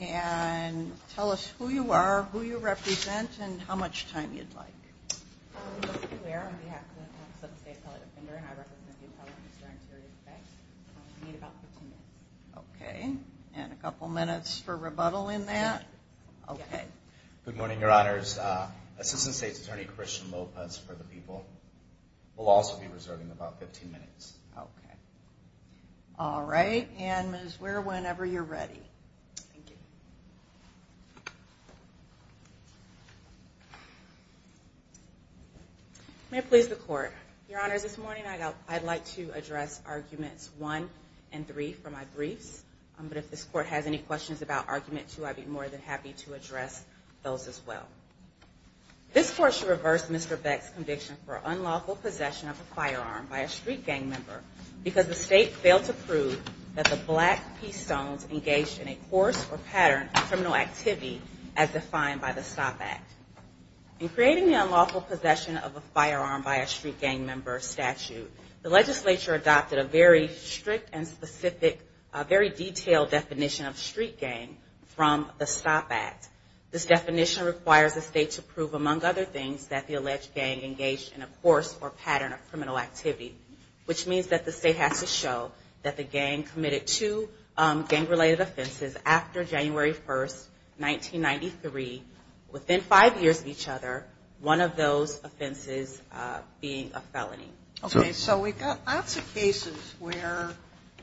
and tell us who you are, who you represent, and how much time you'd like. Okay, and a couple minutes for rebuttal in that. Okay. Good morning, Your Honors. Assistant State's Attorney Christian Lopez for the people. We'll also be reserving about 15 minutes. Okay. All right, and Ms. Ware, whenever you're ready. Thank you. May it please the Court. Your Honors, this morning I'd like to address Arguments 1 and 3 for my briefs, but if this Court has any questions about Argument 2, I'd be more than happy to address those as well. This Court should reverse Mr. Beck's conviction for unlawful possession of a firearm by a street gang member because the State failed to prove that the Black Pistons engaged in a course or pattern of criminal activity, as defined by the STOP Act. In creating the unlawful possession of a firearm by a street gang member statute, the legislature adopted a very strict and specific, very detailed definition of street gang from the STOP Act. This definition requires the State to prove, among other things, that the alleged gang engaged in a course or pattern of criminal activity, which means that the State has to show that the gang committed two gang-related offenses after January 1, 1993, within five years of each other, one of those offenses being a felony. Okay, so we've got lots of cases where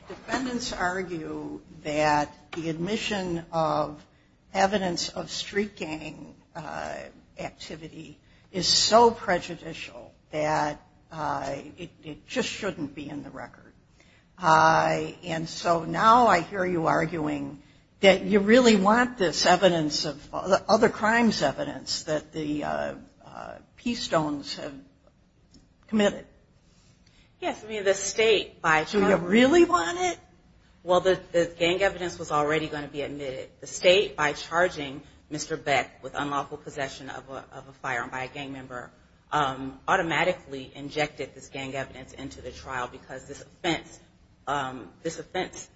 defendants argue that the admission of evidence of street gang activity is so prejudicial that it just shouldn't be in the record. And so now I hear you arguing that you really want this evidence of other crimes evidence that the Pistons have committed. Yes, I mean the State by... So you really want it? Well, the gang evidence was already going to be admitted. The State, by charging Mr. Beck with unlawful possession of a firearm by a gang member, automatically injected this gang evidence into the trial because this offense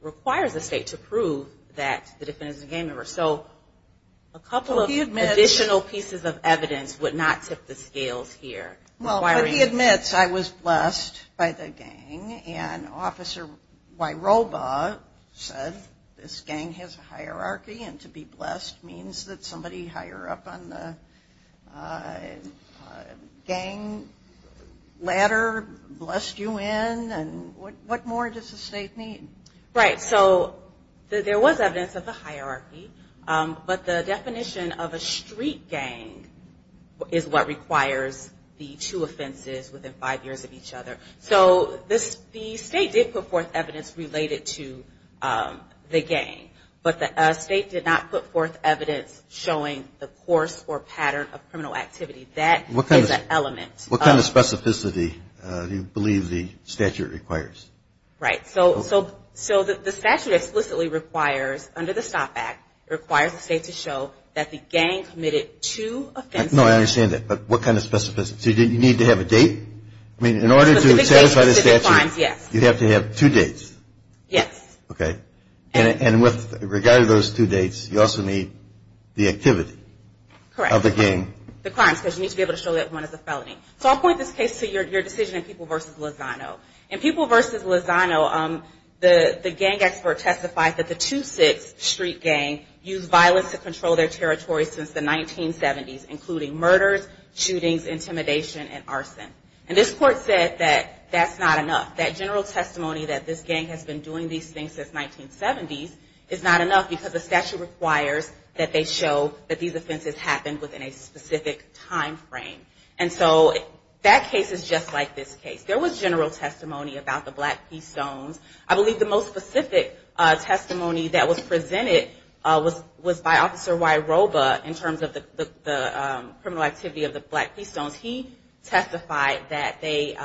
requires the State to prove that the defendant is a gang member. So a couple of additional pieces of evidence would not tip the scales here. Well, but he admits, I was blessed by the gang, and Officer Wiroba said this gang has a hierarchy, and to be blessed means that somebody higher up on the gang ladder blessed you in, and what more does the State need? Right, so there was evidence of a hierarchy, but the definition of a street gang is what requires the two offenses within five years of each other. So the State did put forth evidence related to the gang, but the State did not put forth evidence showing the course or pattern of criminal activity. That is an element of... What kind of specificity do you believe the statute requires? Right, so the statute explicitly requires, under the STOP Act, it requires the State to show that the gang committed two offenses... No, I understand that, but what kind of specificity? Do you need to have a date? I mean, in order to satisfy the statute... Specific dates, specific crimes, yes. You have to have two dates? Yes. Okay, and with regard to those two dates, you also need the activity of the gang. Correct, the crimes, because you need to be able to show that one is a felony. So I'll point this case to your decision in People v. Lozano, the gang expert testified that the 2-6 street gang used violence to control their territory since the 1970s, including murders, shootings, intimidation, and arson. And this court said that that's not enough. That general testimony that this gang has been doing these things since the 1970s is not enough, because the statute requires that they show that these offenses happened within a specific time frame. And so that case is just like this case. There was general testimony about the black gang. There was general testimony about the criminal activity of the Black Pistons. I believe the most specific testimony that was presented was by Officer Y. Roba in terms of the criminal activity of the Black Pistons. He testified that they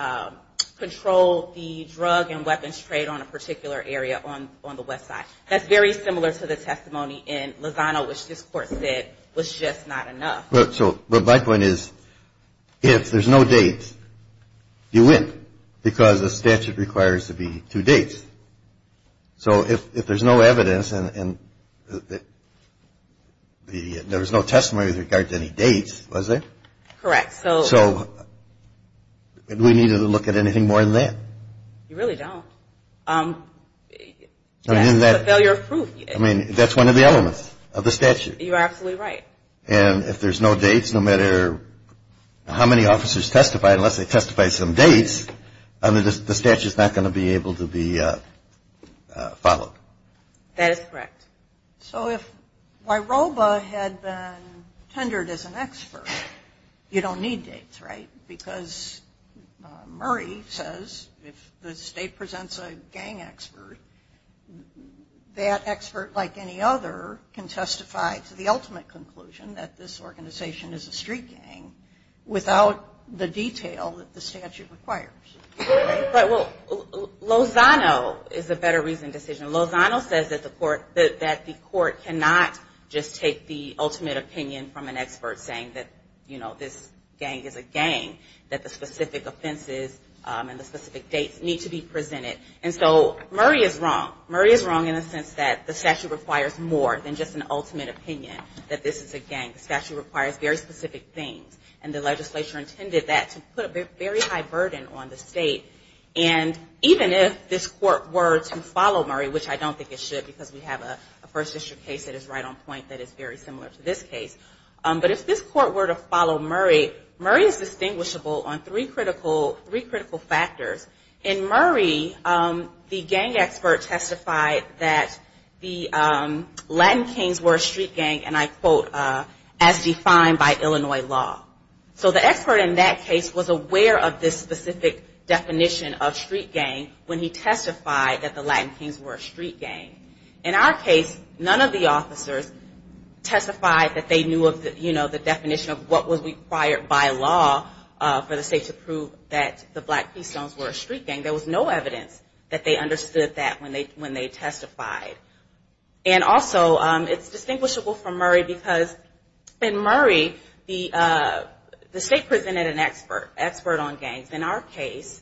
controlled the drug and weapons trade on a particular area on the west side. That's very similar to the testimony in Lozano, which this court said was just not enough. But my point is, if there's no dates, you win, because the statute requires that you show that. So if there's no evidence, and there was no testimony with regard to any dates, was there? Correct. So do we need to look at anything more than that? You really don't. It's a failure of proof. I mean, that's one of the elements of the statute. You're absolutely right. And if there's no dates, no matter how many officers testify, unless they testify some dates, I mean, the statute's not going to be able to be followed. That is correct. So if Y. Roba had been tendered as an expert, you don't need dates, right? Because Murray says if the state presents a gang expert, that expert, like any other, can testify to the ultimate conclusion that this organization is a street gang without the detail that the statute requires. But, well, Lozano is a better reasoned decision. Lozano says that the court cannot just take the ultimate opinion from an expert saying that, you know, this gang is a gang, that the specific offenses and the specific dates need to be presented. And so Murray is wrong. Murray is wrong in the sense that the statute requires more than just an ultimate opinion that this is a gang. The statute requires very specific things, and the legislature intended that to put a very high burden on the state. And even if this court were to follow Murray, which I don't think it should, because we have a first district case that is right on point that is very similar to this case, but if this court were to follow Murray, Murray is distinguishable on three critical factors. In Murray, the gang expert testified that the Latin Kings were a street gang, and I quote, the gang was a street gang. As defined by Illinois law. So the expert in that case was aware of this specific definition of street gang when he testified that the Latin Kings were a street gang. In our case, none of the officers testified that they knew of, you know, the definition of what was required by law for the state to prove that the Black Keystones were a street gang. There was no evidence that they understood that when they testified. In Murray, the state presented an expert, expert on gangs. In our case,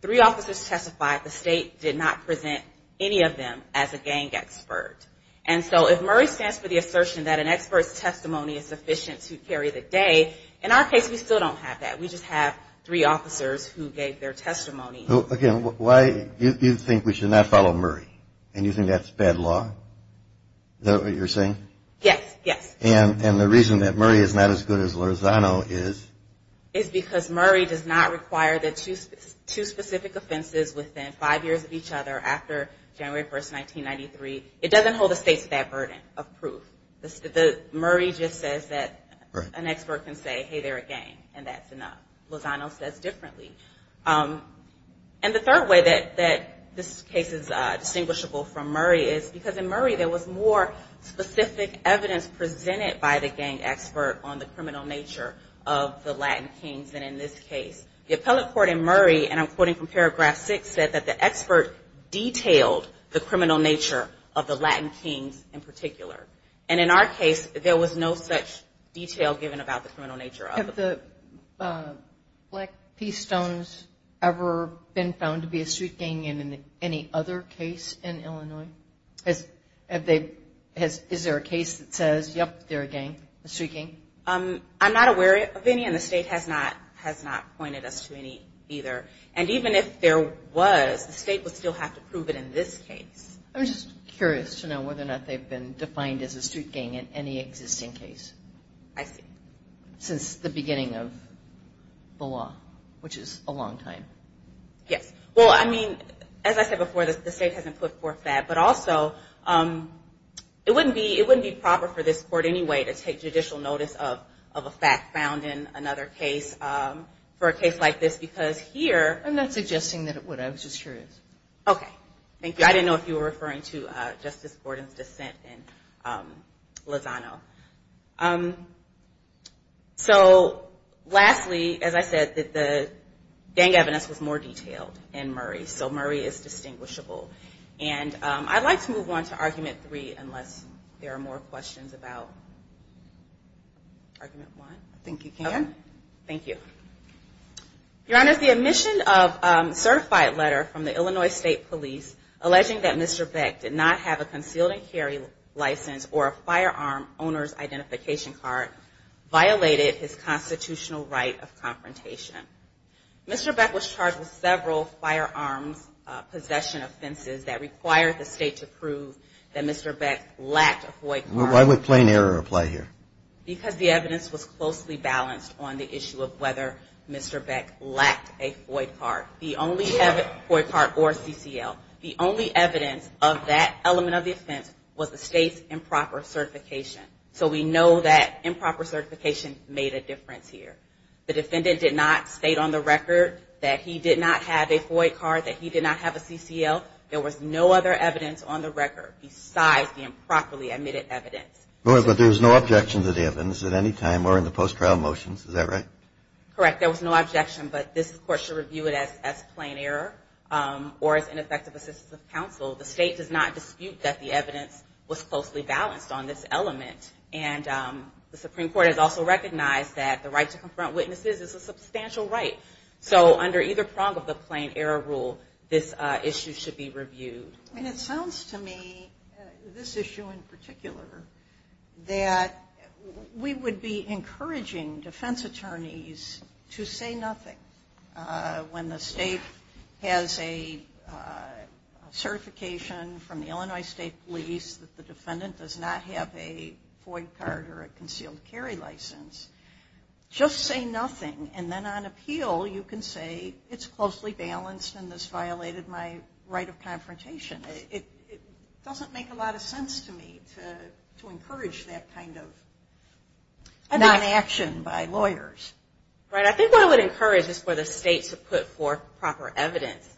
three officers testified, the state did not present any of them as a gang expert. And so if Murray stands for the assertion that an expert's testimony is sufficient to carry the day, in our case, we still don't have that. We just have three officers who gave their testimony. Again, you think we should not follow Murray, and you think that's bad law? Is that what you're saying? Yes, yes. And the reason that Murray is not as good as Lozano is? It's because Murray does not require that two specific offenses within five years of each other after January 1st, 1993, it doesn't hold the states to that burden of proof. Murray just says that an expert can say, hey, they're a gang, and that's enough. Lozano says differently. And the third way that this case is distinguishable from Murray is because in Murray there was more specific evidence presented by the gang expert on the criminal nature of the Latin kings than in this case. The appellate court in Murray, and I'm quoting from paragraph six, said that the expert detailed the criminal nature of the Latin kings in particular. And in our case, there was no such detail given about the criminal nature of them. Has one of the Black Pistons ever been found to be a street gang in any other case in Illinois? Is there a case that says, yep, they're a gang, a street gang? I'm not aware of any, and the state has not pointed us to any either. And even if there was, the state would still have to prove it in this case. I'm just curious to know whether or not they've been defined as a street gang in any existing case. I see. Since the beginning of the law, which is a long time. Yes. Well, I mean, as I said before, the state hasn't put forth that. But also, it wouldn't be proper for this court anyway to take judicial notice of a fact found in another case, for a case like this. Because here... I'm not suggesting that it would. I was just curious. Okay. Thank you. I didn't know if you were referring to Justice Gordon's dissent in Lozano. So lastly, as I said, the gang evidence was more detailed in Murray. So Murray is distinguishable. And I'd like to move on to Argument 3, unless there are more questions about Argument 1. I think you can. Thank you. Your Honor, the omission of a certified letter from the Illinois State Police alleging that Mr. Beck did not have a concealed and carry license or a firearm owner's identification card violated his constitutional right of confrontation. Mr. Beck was charged with several firearms possession offenses that required the state to prove that Mr. Beck lacked a FOIA card. Why would plain error apply here? Because the evidence was closely balanced on the issue of whether Mr. Beck lacked a FOIA card. The only evidence of that element of the offense was the state's improper certification. So we know that improper certification made a difference here. The defendant did not state on the record that he did not have a FOIA card, that he did not have a CCL. There was no other evidence on the record besides the improperly admitted evidence. But there was no objection to the evidence at any time or in the post-trial motions, is that right? Correct. There was no objection, but this Court should review it as plain error or as ineffective assistance of counsel. The state does not dispute that the evidence was closely balanced on this element. And the Supreme Court has also recognized that the right to confront witnesses is a substantial right. So under either prong of the plain error rule, this issue should be reviewed. And it sounds to me, this issue in particular, that we would be encouraging defense attorneys to say nothing when the state has a certification from the Illinois State Police that the defendant does not have a FOIA card or a concealed carry license. Just say nothing, and then on appeal you can say it's closely balanced and this violated my right of confrontation. It doesn't make a lot of sense to me to encourage that kind of non-action by lawyers. Right. I think what I would encourage is for the state to put forth proper evidence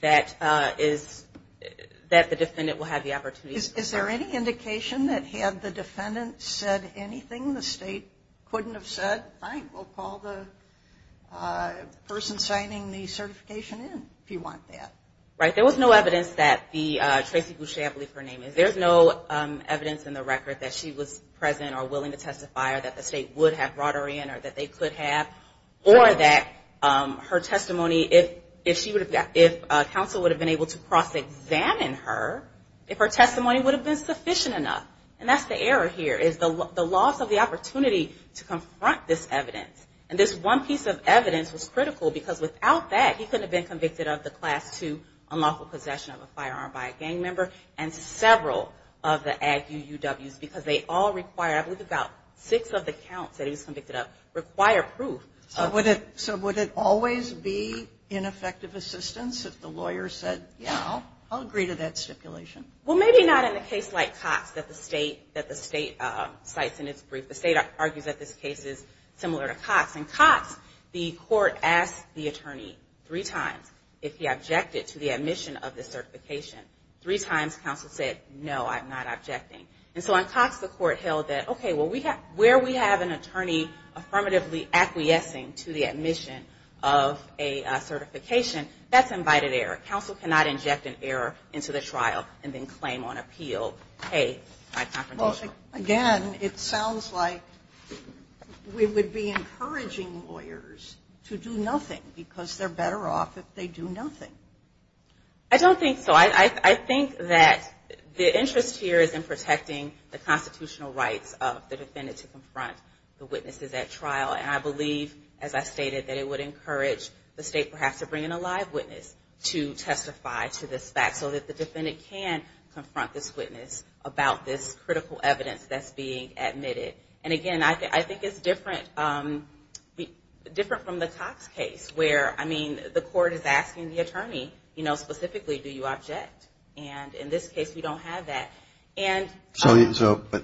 that the defendant will have the opportunity to speak. Is there any indication that had the defendant said anything, the state couldn't have said anything? Well, call the person signing the certification in if you want that. Right. There was no evidence that the, Tracy Boucher, I believe her name is, there's no evidence in the record that she was present or willing to testify or that the state would have brought her in or that they could have. Or that her testimony, if she would have, if counsel would have been able to cross-examine her, if her testimony would have been sufficient enough. And that's the error here is the loss of the opportunity to confront this evidence. And this one piece of evidence was critical because without that he couldn't have been convicted of the Class II unlawful possession of a firearm by a gang member and several of the ag UUWs because they all require, I believe about six of the counts that he was convicted of, require proof. So would it always be ineffective assistance if the lawyer said, yeah, I'll agree to that stipulation? Well, maybe not in a case like Cox that the state, that the state cites in its brief. The state argues that this case is similar to Cox. And Cox, the court asked the attorney three times if he objected to the admission of the certification. Three times counsel said, no, I'm not objecting. And so on Cox the court held that, okay, well we have, where we have an attorney affirmatively acquiescing to the admission of a certification, that's invited error. And then claim on appeal, hey, I confidential. Well, again, it sounds like we would be encouraging lawyers to do nothing because they're better off if they do nothing. I don't think so. I think that the interest here is in protecting the constitutional rights of the defendant to confront the witnesses at trial. And I believe, as I stated, that it would encourage the state perhaps to bring in a live witness to testify to this fact so that the defendant can, you know, confront this witness about this critical evidence that's being admitted. And, again, I think it's different, different from the Cox case where, I mean, the court is asking the attorney, you know, specifically, do you object? And in this case we don't have that. So, but,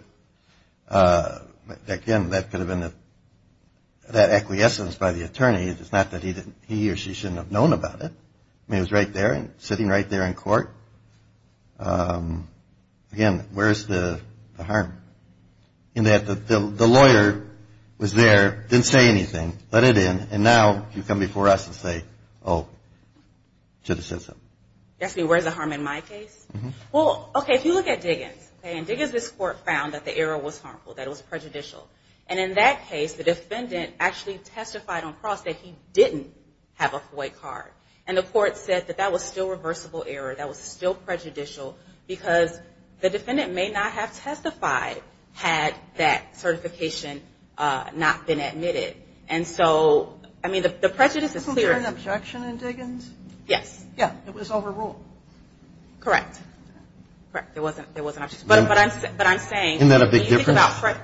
again, that could have been, that acquiescence by the attorney, it's not that he or she shouldn't have known about it. I mean, it was right there, sitting right there in court. Again, where's the harm? In that the lawyer was there, didn't say anything, let it in, and now you come before us and say, oh, should have said something. Yes, I mean, where's the harm in my case? Well, okay, if you look at Diggins, okay, and Diggins, this court found that the error was harmful, that it was prejudicial. And in that case, the defendant actually testified on cross that he didn't have a FOIA card. And the court said that that was still reversible error, that was still prejudicial, because the defendant may not have testified had that certification not been admitted. And so, I mean, the prejudice is clear. Yes. Yeah, it was overruled. Correct. But I'm saying, when you think about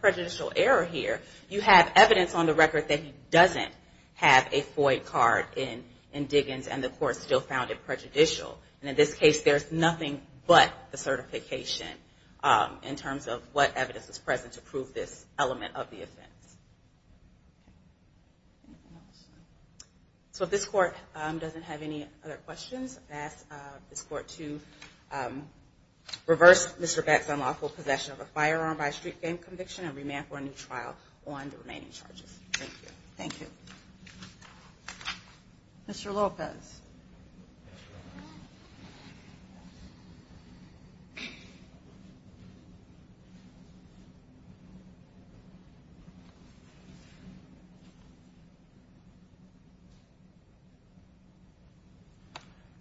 prejudicial error here, you have evidence on the record that he doesn't have a FOIA card in Diggins, and the court still found it prejudicial. And in this case, there's nothing but the certification in terms of what evidence was present to prove this element is true. So, I'm just saying, if the defendant doesn't have any other questions, I ask this court to reverse Mr. Beck's unlawful possession of a firearm by a street gang conviction and remand for a new trial on the remaining charges. Thank you.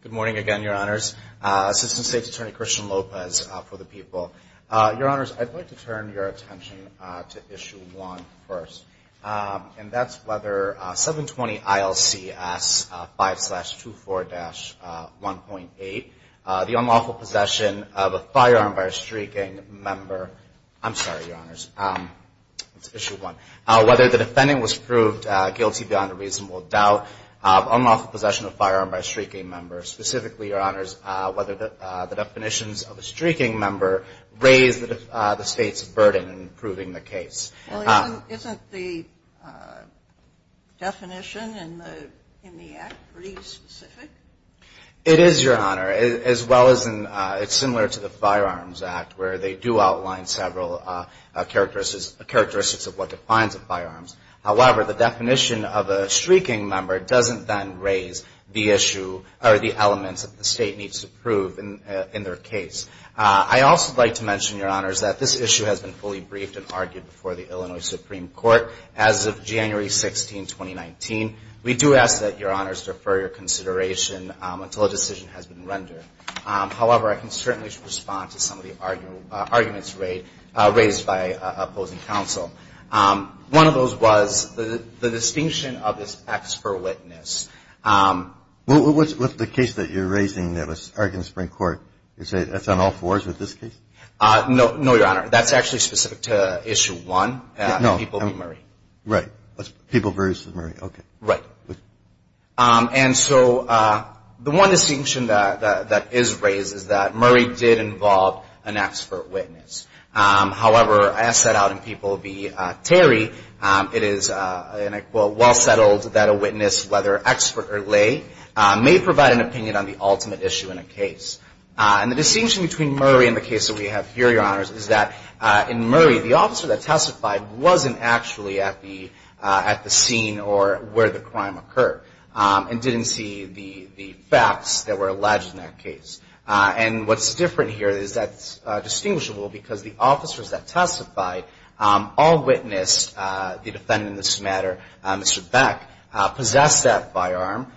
Good morning again, Your Honors. Assistant State's Attorney Christian Lopez for the people. Your Honors, I'd like to turn your attention to Issue 1 first, and that's whether 720 ILCS 5-24-1.8, the unlawful possession of a firearm by a street gang member, I'm sorry, Your Honors, it's Issue 1, whether the defendant was proved guilty beyond a reasonable doubt of unlawful possession of a firearm by a street gang member. Specifically, Your Honors, whether the definitions of a street gang member raise the State's burden in proving the case. Well, isn't the definition in the Act pretty specific? It is, Your Honor, as well as in, it's similar to the Firearms Act, where they do outline several characteristics of what defines a street gang member as the issue or the elements that the State needs to prove in their case. I'd also like to mention, Your Honors, that this issue has been fully briefed and argued before the Illinois Supreme Court as of January 16, 2019. We do ask that Your Honors defer your consideration until a decision has been rendered. However, I can certainly respond to some of the arguments raised by opposing counsel. One of those was the distinction of this expert witness. Well, what's the case that you're raising that was argued in the Supreme Court? You're saying that's on all fours with this case? No, Your Honor, that's actually specific to Issue 1, the people of Murray. Right, people versus Murray, okay. Right, and so the one distinction that is raised is that Murray did involve an expert witness. However, I ask that out and people be aware that in the case of Terry, it is, and I quote, well settled that a witness, whether expert or lay, may provide an opinion on the ultimate issue in a case. And the distinction between Murray and the case that we have here, Your Honors, is that in Murray, the officer that testified wasn't actually at the scene or where the crime occurred and didn't see the facts that were alleged in that case. And what's different here is that it's distinguishable because the officers that testified all raised the issue of the fact that the witness, the defendant in this matter, Mr. Beck, possessed that firearm.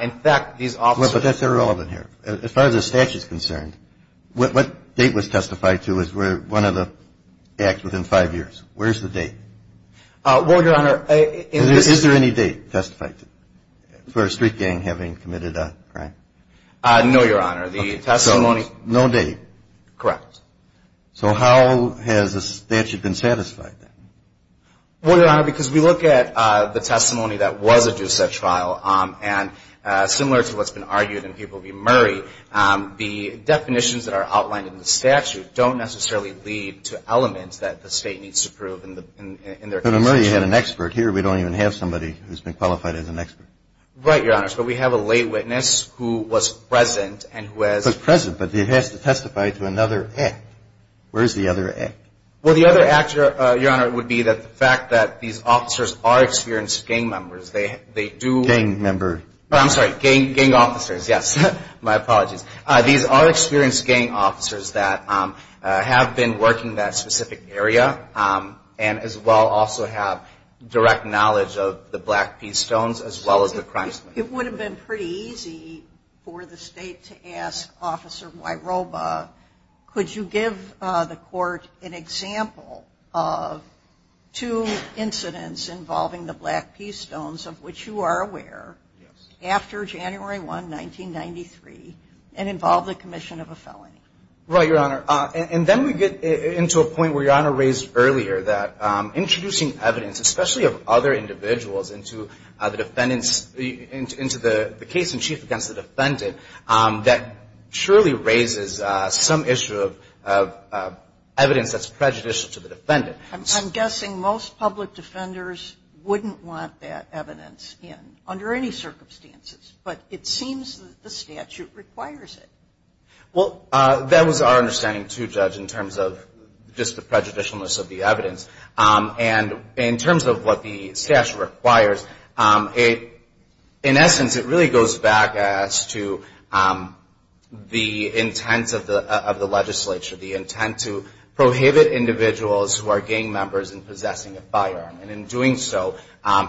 In fact, these officers... Well, but that's irrelevant here. As far as the statute is concerned, what date was testified to is one of the acts within five years. Where's the date? Well, Your Honor... Is there any date testified to for a street gang having committed a crime? No, Your Honor. The testimony... No date? Correct. So how has the statute been satisfied then? Well, Your Honor, because we look at the testimony that was a due set trial and similar to what's been argued in people v. Murray, the definitions that are in the statute, it has to testify to another act. Where's the other act? Well, the other act, Your Honor, would be the fact that these officers are experienced gang members. Gang members? I'm sorry, gang officers, yes. My apologies. These are experienced gang officers that have been working that specific area and as well also have direct knowledge of the Black Pistons as well as the crimes committed. It would have been pretty easy for the state to ask Officer Wairoba, could you give the court an example of two incidents involving the Black Pistons, of which you are aware, after January 1, 1993, and involve the commission of a felony? Right, Your Honor. And then we get into a point where Your Honor raised earlier that introducing evidence, especially of other individuals, into the case in chief against the defendant, that surely raises some issue of evidence that's prejudicial to the defendant. I'm guessing most public defenders wouldn't want that evidence in under any circumstances, but it seems that the statute requires it. Well, that was our understanding too, Judge, in terms of just the prejudicialness of the evidence. And in terms of what the statute requires, in essence, it really goes back as to the intent of the legislature, the intent to prohibit individuals who are gang members and possessing a firearm. And in doing so,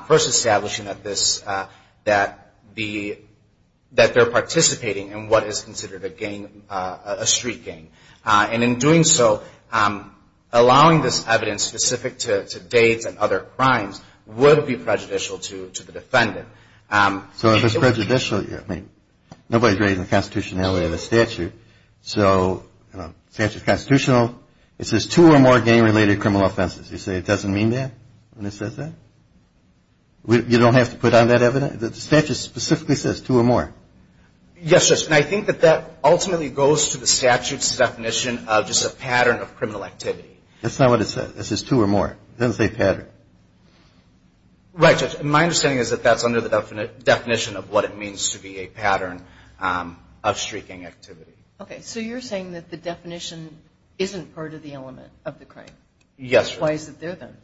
first establishing that this, that the, that they're participating in what is considered a gang, a street gang. And in doing so, allowing this evidence to simply be used as an evidence that's specific to dates and other crimes would be prejudicial to the defendant. So if it's prejudicial, I mean, nobody's raising the constitutionality of the statute. So, you know, the statute's constitutional. It says two or more gang-related criminal offenses. You say it doesn't mean that when it says that? You don't have to put on that evidence? The statute specifically says two or more. Yes, Justice, and I think that that ultimately goes to the statute's definition of just a pattern of criminal activity. That's not what it says. It says two or more. It doesn't say pattern. Right, Judge. My understanding is that that's under the definition of what it means to be a pattern of streaking activity. Okay. So you're saying that the definition isn't part of the element of the crime? Yes, Your Honor. Why is it there, then?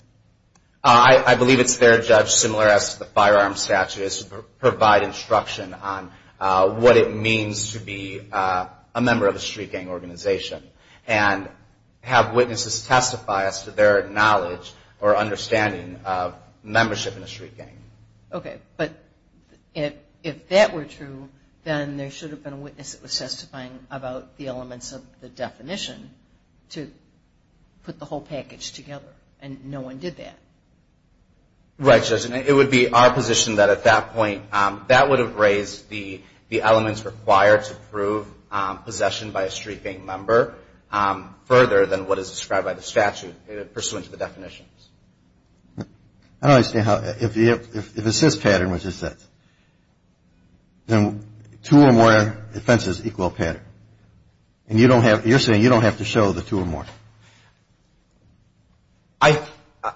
I believe it's there, Judge, similar as to the firearm statute, is to provide instruction on what it means to be a member of a street gang and to testify as to their knowledge or understanding of membership in a street gang. Okay. But if that were true, then there should have been a witness that was testifying about the elements of the definition to put the whole package together, and no one did that. Right, Judge. And it would be our position that at that point, that would have raised the elements required to prove possession by a street gang member further than what is described by the statute pursuant to the definitions. I don't understand. If it says pattern, which it says, then two or more offenses equal pattern. And you're saying you don't have to show the two or more?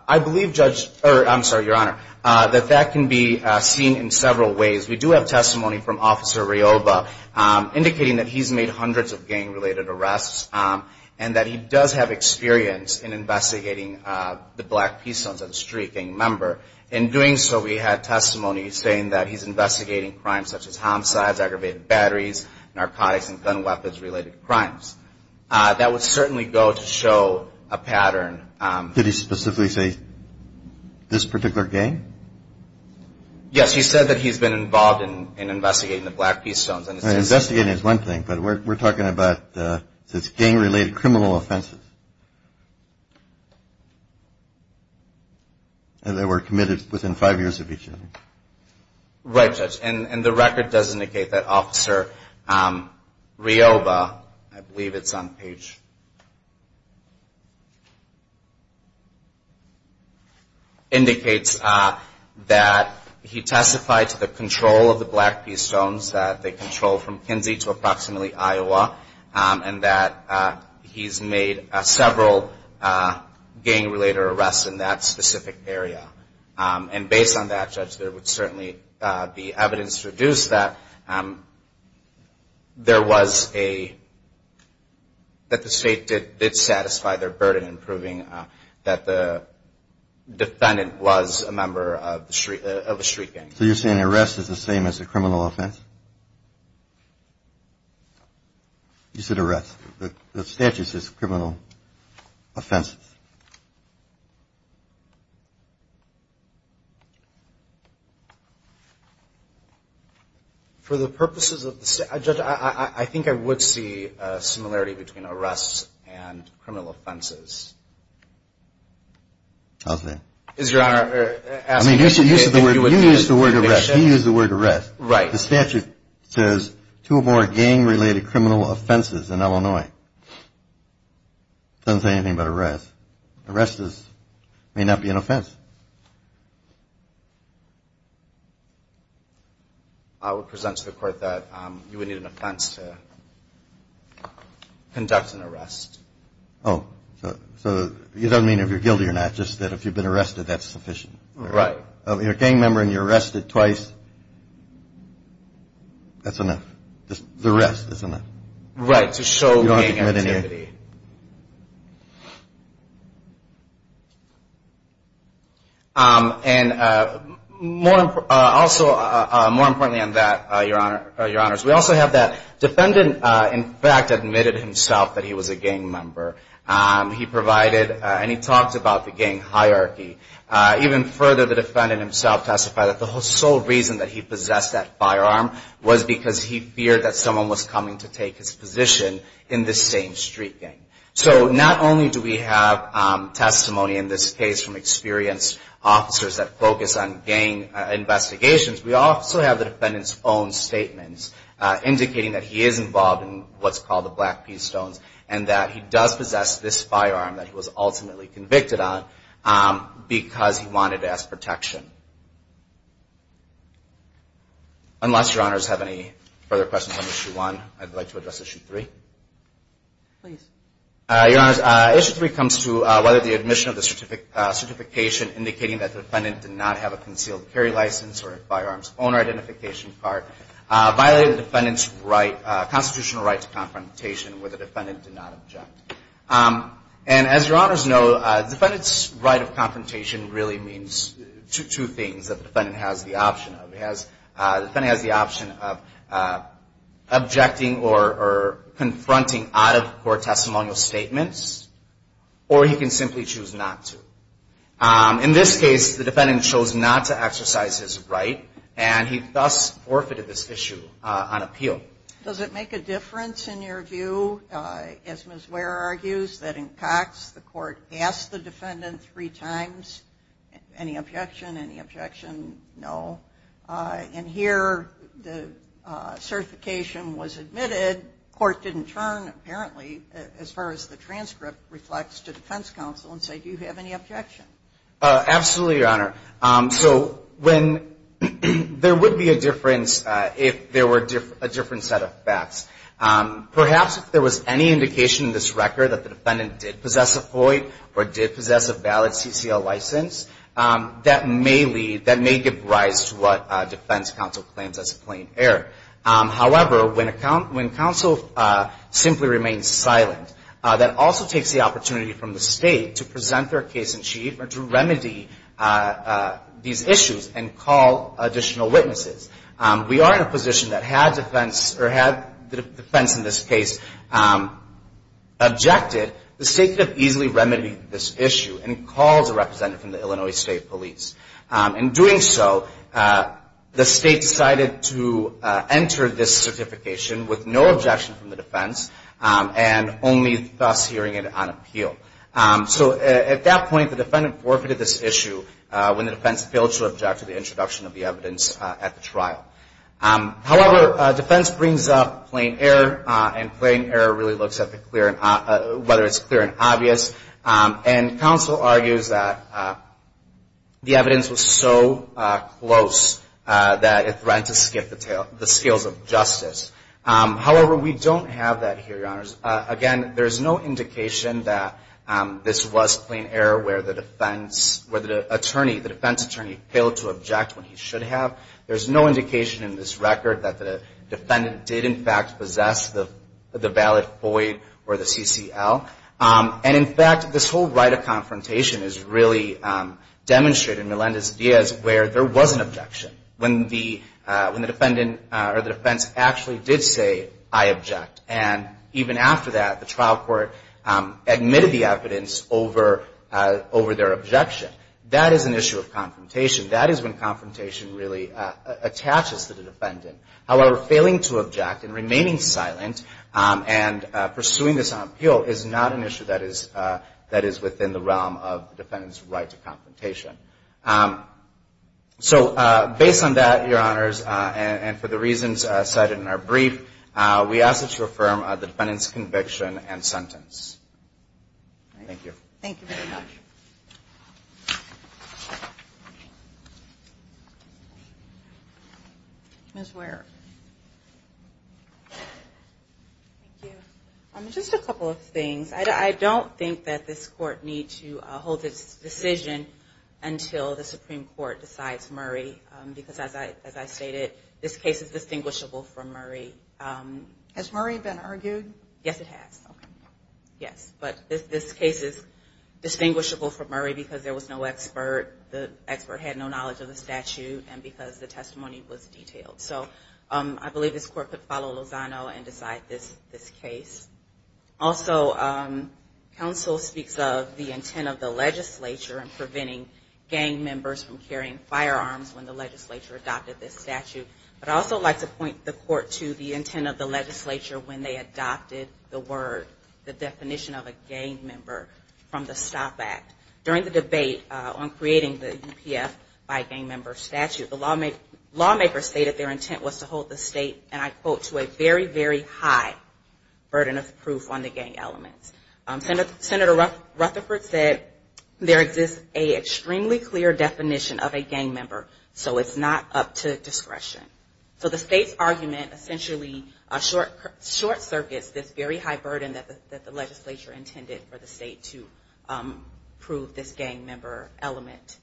I believe, Judge, or I'm sorry, Your Honor, that that can be seen in several ways. We do have testimony from Officer Riova indicating that he's made hundreds of gang-related arrests and that he does have experience in investigating the black p-stones of a street gang member. In doing so, we had testimony saying that he's investigating crimes such as homicides, aggravated batteries, narcotics and gun weapons-related crimes. That would certainly go to show a pattern. Did he specifically say this particular gang? Yes, he said that he's been involved in investigating the black p-stones. Investigating is one thing, but we're talking about gang-related criminal offenses. And they were committed within five years of each other. Right, Judge. And the record does indicate that Officer Riova, I believe it's on page... indicates that he testified to the control of the black p-stones, that they control from Kinsey to approximately Iowa, and that he's made several gang-related arrests in that specific area. And based on that, Judge, there would certainly be evidence to produce that there was a... that the state did satisfy their burden in proving that the defendant committed gang-related crimes. And that he was a member of a street gang. So you're saying an arrest is the same as a criminal offense? You said arrests. The statute says criminal offenses. For the purposes of the... Judge, I think I would see a similarity between arrests and criminal offenses. How's that? You used the word arrest. He used the word arrest. The statute says two or more gang-related criminal offenses in Illinois. It doesn't say anything about arrests. Arrests may not be an offense. You don't need an offense to conduct an arrest. Oh, so you don't mean if you're guilty or not, just that if you've been arrested, that's sufficient. Right. If you're a gang member and you're arrested twice, that's enough. The rest is enough. Right, to show gang activity. And more importantly on that, Your Honors, we also have that defendant in fact admitted himself that he was a gang member. He provided, and he talked about the gang hierarchy. Even further, the defendant himself testified that the sole reason that he possessed that firearm was because he feared that someone was coming to take his position in the same street. So not only do we have testimony in this case from experienced officers that focus on gang investigations, we also have the defendant's own statements indicating that he is involved in what's called the Black Pistons and that he does possess this firearm that he was ultimately convicted on because he wanted to ask protection. Unless Your Honors have any further questions on Issue 1, I'd like to address Issue 3. Your Honors, Issue 3 comes to whether the admission of the certification indicating that the defendant did not have a concealed carry license or a firearms owner identification card violated the defendant's constitutional right to confrontation where the defendant did not object. And as Your Honors know, the defendant's right of confrontation really means two things that the defendant has the option of. The defendant has the option of objecting or confronting out of courtesan law. The defendant has the option of either making testimonial statements or he can simply choose not to. In this case, the defendant chose not to exercise his right and he thus forfeited this issue on appeal. Does it make a difference in your view, as Ms. Ware argues, that in Cox the court asked the defendant three times, any objection, any objection, no. And here the certification was admitted, court didn't turn apparently as far as I know. As far as the transcript reflects to defense counsel and say, do you have any objection? Absolutely, Your Honor. So when, there would be a difference if there were a different set of facts. Perhaps if there was any indication in this record that the defendant did possess a FOIA or did possess a valid CCL license, that may lead, that may give rise to what defense counsel claims as a plain error. However, when counsel simply remains silent, that also takes the opportunity from the state to present their case in chief or to remedy these issues and call additional witnesses. We are in a position that had defense, or had the defense in this case objected, the state could have easily remedied this issue and called a representative from the Illinois State Police. In doing so, the state decided to enter this certification with no objection from the defense and only thus hearing it on appeal. So at that point the defendant forfeited this issue when the defense failed to object to the introduction of the evidence at the trial. However, defense brings up plain error and plain error really looks at the clear, whether it's clear and obvious. And counsel argues that the evidence was so close that it threatened to skip the scales of justice. However, we don't have that here, Your Honors. Again, there's no indication that this was plain error where the defense, where the attorney, the defense attorney failed to object when he should have. There's no indication in this record that the defendant did in fact possess the valid FOIA or the CCL. And in fact, this whole right of confrontation is really demonstrated in Melendez-Diaz where there was an objection. When the defendant, or the defense actually did say, I object. And even after that, the trial court admitted the evidence over their objection. That is an issue of confrontation. That is when confrontation really attaches to the defendant. However, failing to object and remaining silent and pursuing this on appeal is not an issue that is within the realm of the defendant's right to confrontation. So based on that, Your Honors, and for the reasons cited in our brief, we ask that you affirm the defendant's conviction and sentence. Thank you. Ms. Ware. Thank you. Just a couple of things. I don't think that this Court needs to hold this decision until the Supreme Court decides Murray. Because as I stated, this case is distinguishable from Murray. Has Murray been argued? Yes, it has. Yes. But this case is distinguishable from Murray because there was no expert, the expert had no knowledge of the statute, and because the testimony was detailed. So I believe this Court could follow Lozano and decide this case. Also, counsel speaks of the intent of the legislature in preventing gang members from carrying firearms when the legislature adopted this statute. But I'd also like to point the Court to the intent of the legislature when they adopted the word, the definition of a gang member from the STOP Act. During the debate on creating the UPF by gang member statute, the lawmakers stated their intent was to hold the state, and I quote, to a very, very high burden of proof on the gang elements. Senator Rutherford said there exists an extremely clear definition of a gang member, so it's not up to discretion. So the state's argument essentially short-circuits this very high burden that the legislature intended for the state to prove this gang member element,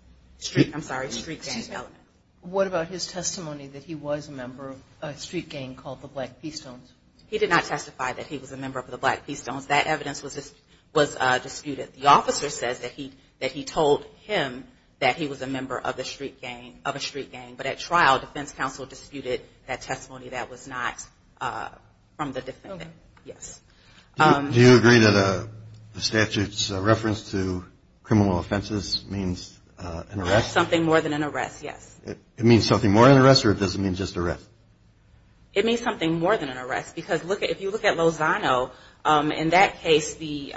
I'm sorry, street gang element. What about his testimony that he was a member of a street gang called the Black Pistons? He did not testify that he was a member of the Black Pistons. That evidence was disputed. The officer says that he told him that he was a member of a street gang, but at trial, defense counsel disputed that. That testimony that was not from the defendant. Do you agree that the statute's reference to criminal offenses means an arrest? Something more than an arrest, yes. It means something more than an arrest, because if you look at Lozano, in that case, the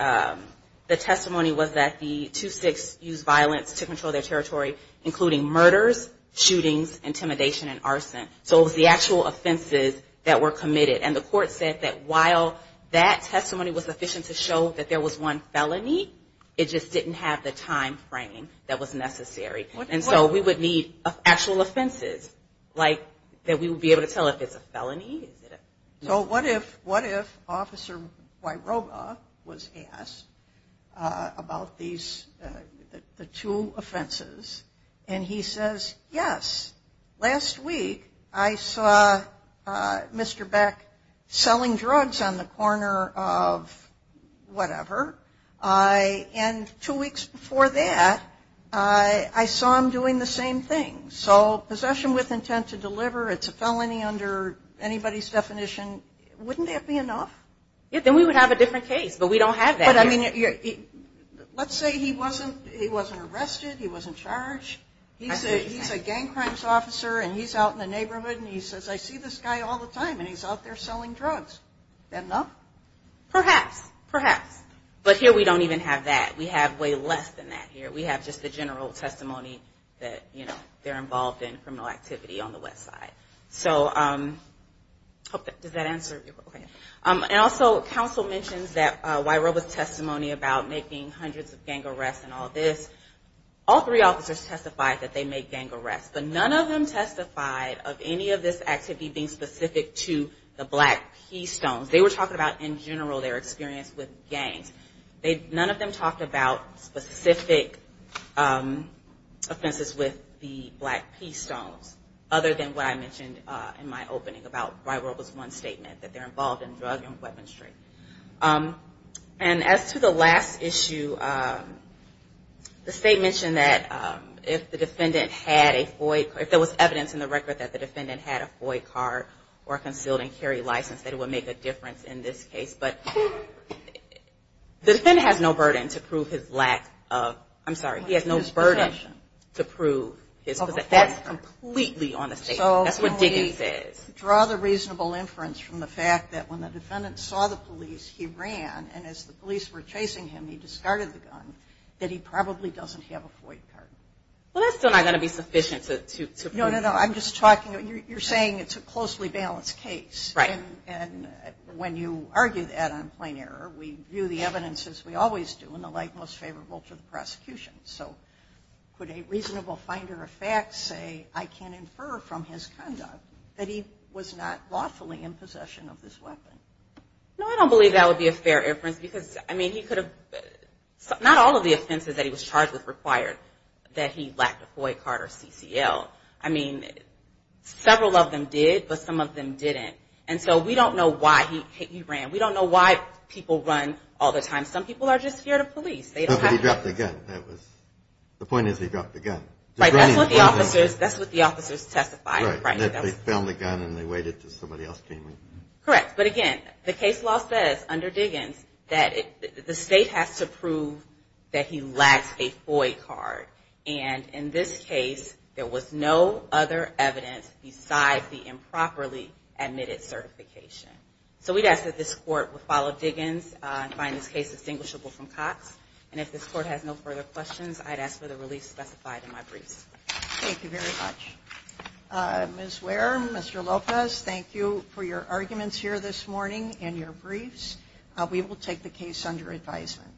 testimony was that the 2-6 used violence to control their territory, including murders, shootings, intimidation, and arson. So it was the actual offenses that were committed, and the court said that while that testimony was sufficient to show that there was one felony, it just didn't have the time frame that was necessary. And so we would need actual offenses, like, that we would be able to tell if it's a felony. So what if, what if Officer Weiroba was asked about these, the two offenses, and he says, yes, last week, I was in a street gang, and I was arrested. I saw Mr. Beck selling drugs on the corner of whatever, and two weeks before that, I saw him doing the same thing. So possession with intent to deliver, it's a felony under anybody's definition, wouldn't that be enough? Yeah, then we would have a different case, but we don't have that. Let's say he wasn't arrested, he wasn't charged, he's a gang crimes officer, and he's out in the neighborhood. And he says, I see this guy all the time, and he's out there selling drugs. Is that enough? Perhaps, perhaps. But here we don't even have that. We have way less than that here. We have just the general testimony that, you know, they're involved in criminal activity on the West Side. So I hope that does that answer your question. And also, counsel mentions that Weiroba's testimony about making hundreds of gang arrests and all this, all three officers testified that they made gang arrests. But none of them testified of any of this activity being specific to the Black P-Stones. They were talking about, in general, their experience with gangs. None of them talked about specific offenses with the Black P-Stones, other than what I mentioned in my opening about Weiroba's one statement, that they're involved in drug and weapons trade. And as to the last issue, the state mentioned that if the defendant had a four-year prison sentence, if there was evidence in the record that the defendant had a FOIA card or a concealed and carry license, that it would make a difference in this case. But the defendant has no burden to prove his lack of, I'm sorry, he has no burden to prove his possession. That's completely on the state. That's what Diggins says. So when we draw the reasonable inference from the fact that when the defendant saw the police, he ran, and as the police were chasing him, he discarded the gun, that he probably doesn't have a FOIA card. Well, that's still not going to be sufficient to prove that. No, no, no. I'm just talking, you're saying it's a closely balanced case. Right. And when you argue that on plain error, we view the evidence as we always do, and the like most favorable to the prosecution. So could a reasonable finder of facts say, I can infer from his conduct that he was not lawfully in possession of this weapon? No, I don't believe that would be a fair inference because, I mean, he could have, not all of the offenses that he was charged with required that he lacked a FOIA card or CCL. I mean, several of them did, but some of them didn't. And so we don't know why he ran. We don't know why people run all the time. Some people are just here to police. But he dropped the gun. The point is he dropped the gun. Right. That's what the officers testified. They found the gun and they waited until somebody else came in. Correct. But again, the case law says under Diggins that the state has to prove that he lacks a FOIA card. And in this case, there was no other evidence besides the improperly admitted certification. So we'd ask that this court would follow Diggins and find this case distinguishable from Cox. And if this court has no further questions, I'd ask for the release specified in my briefs. Thank you very much. Ms. Ware, Mr. Lopez, thank you for your arguments here this morning and your briefs. We will take the case under advisement.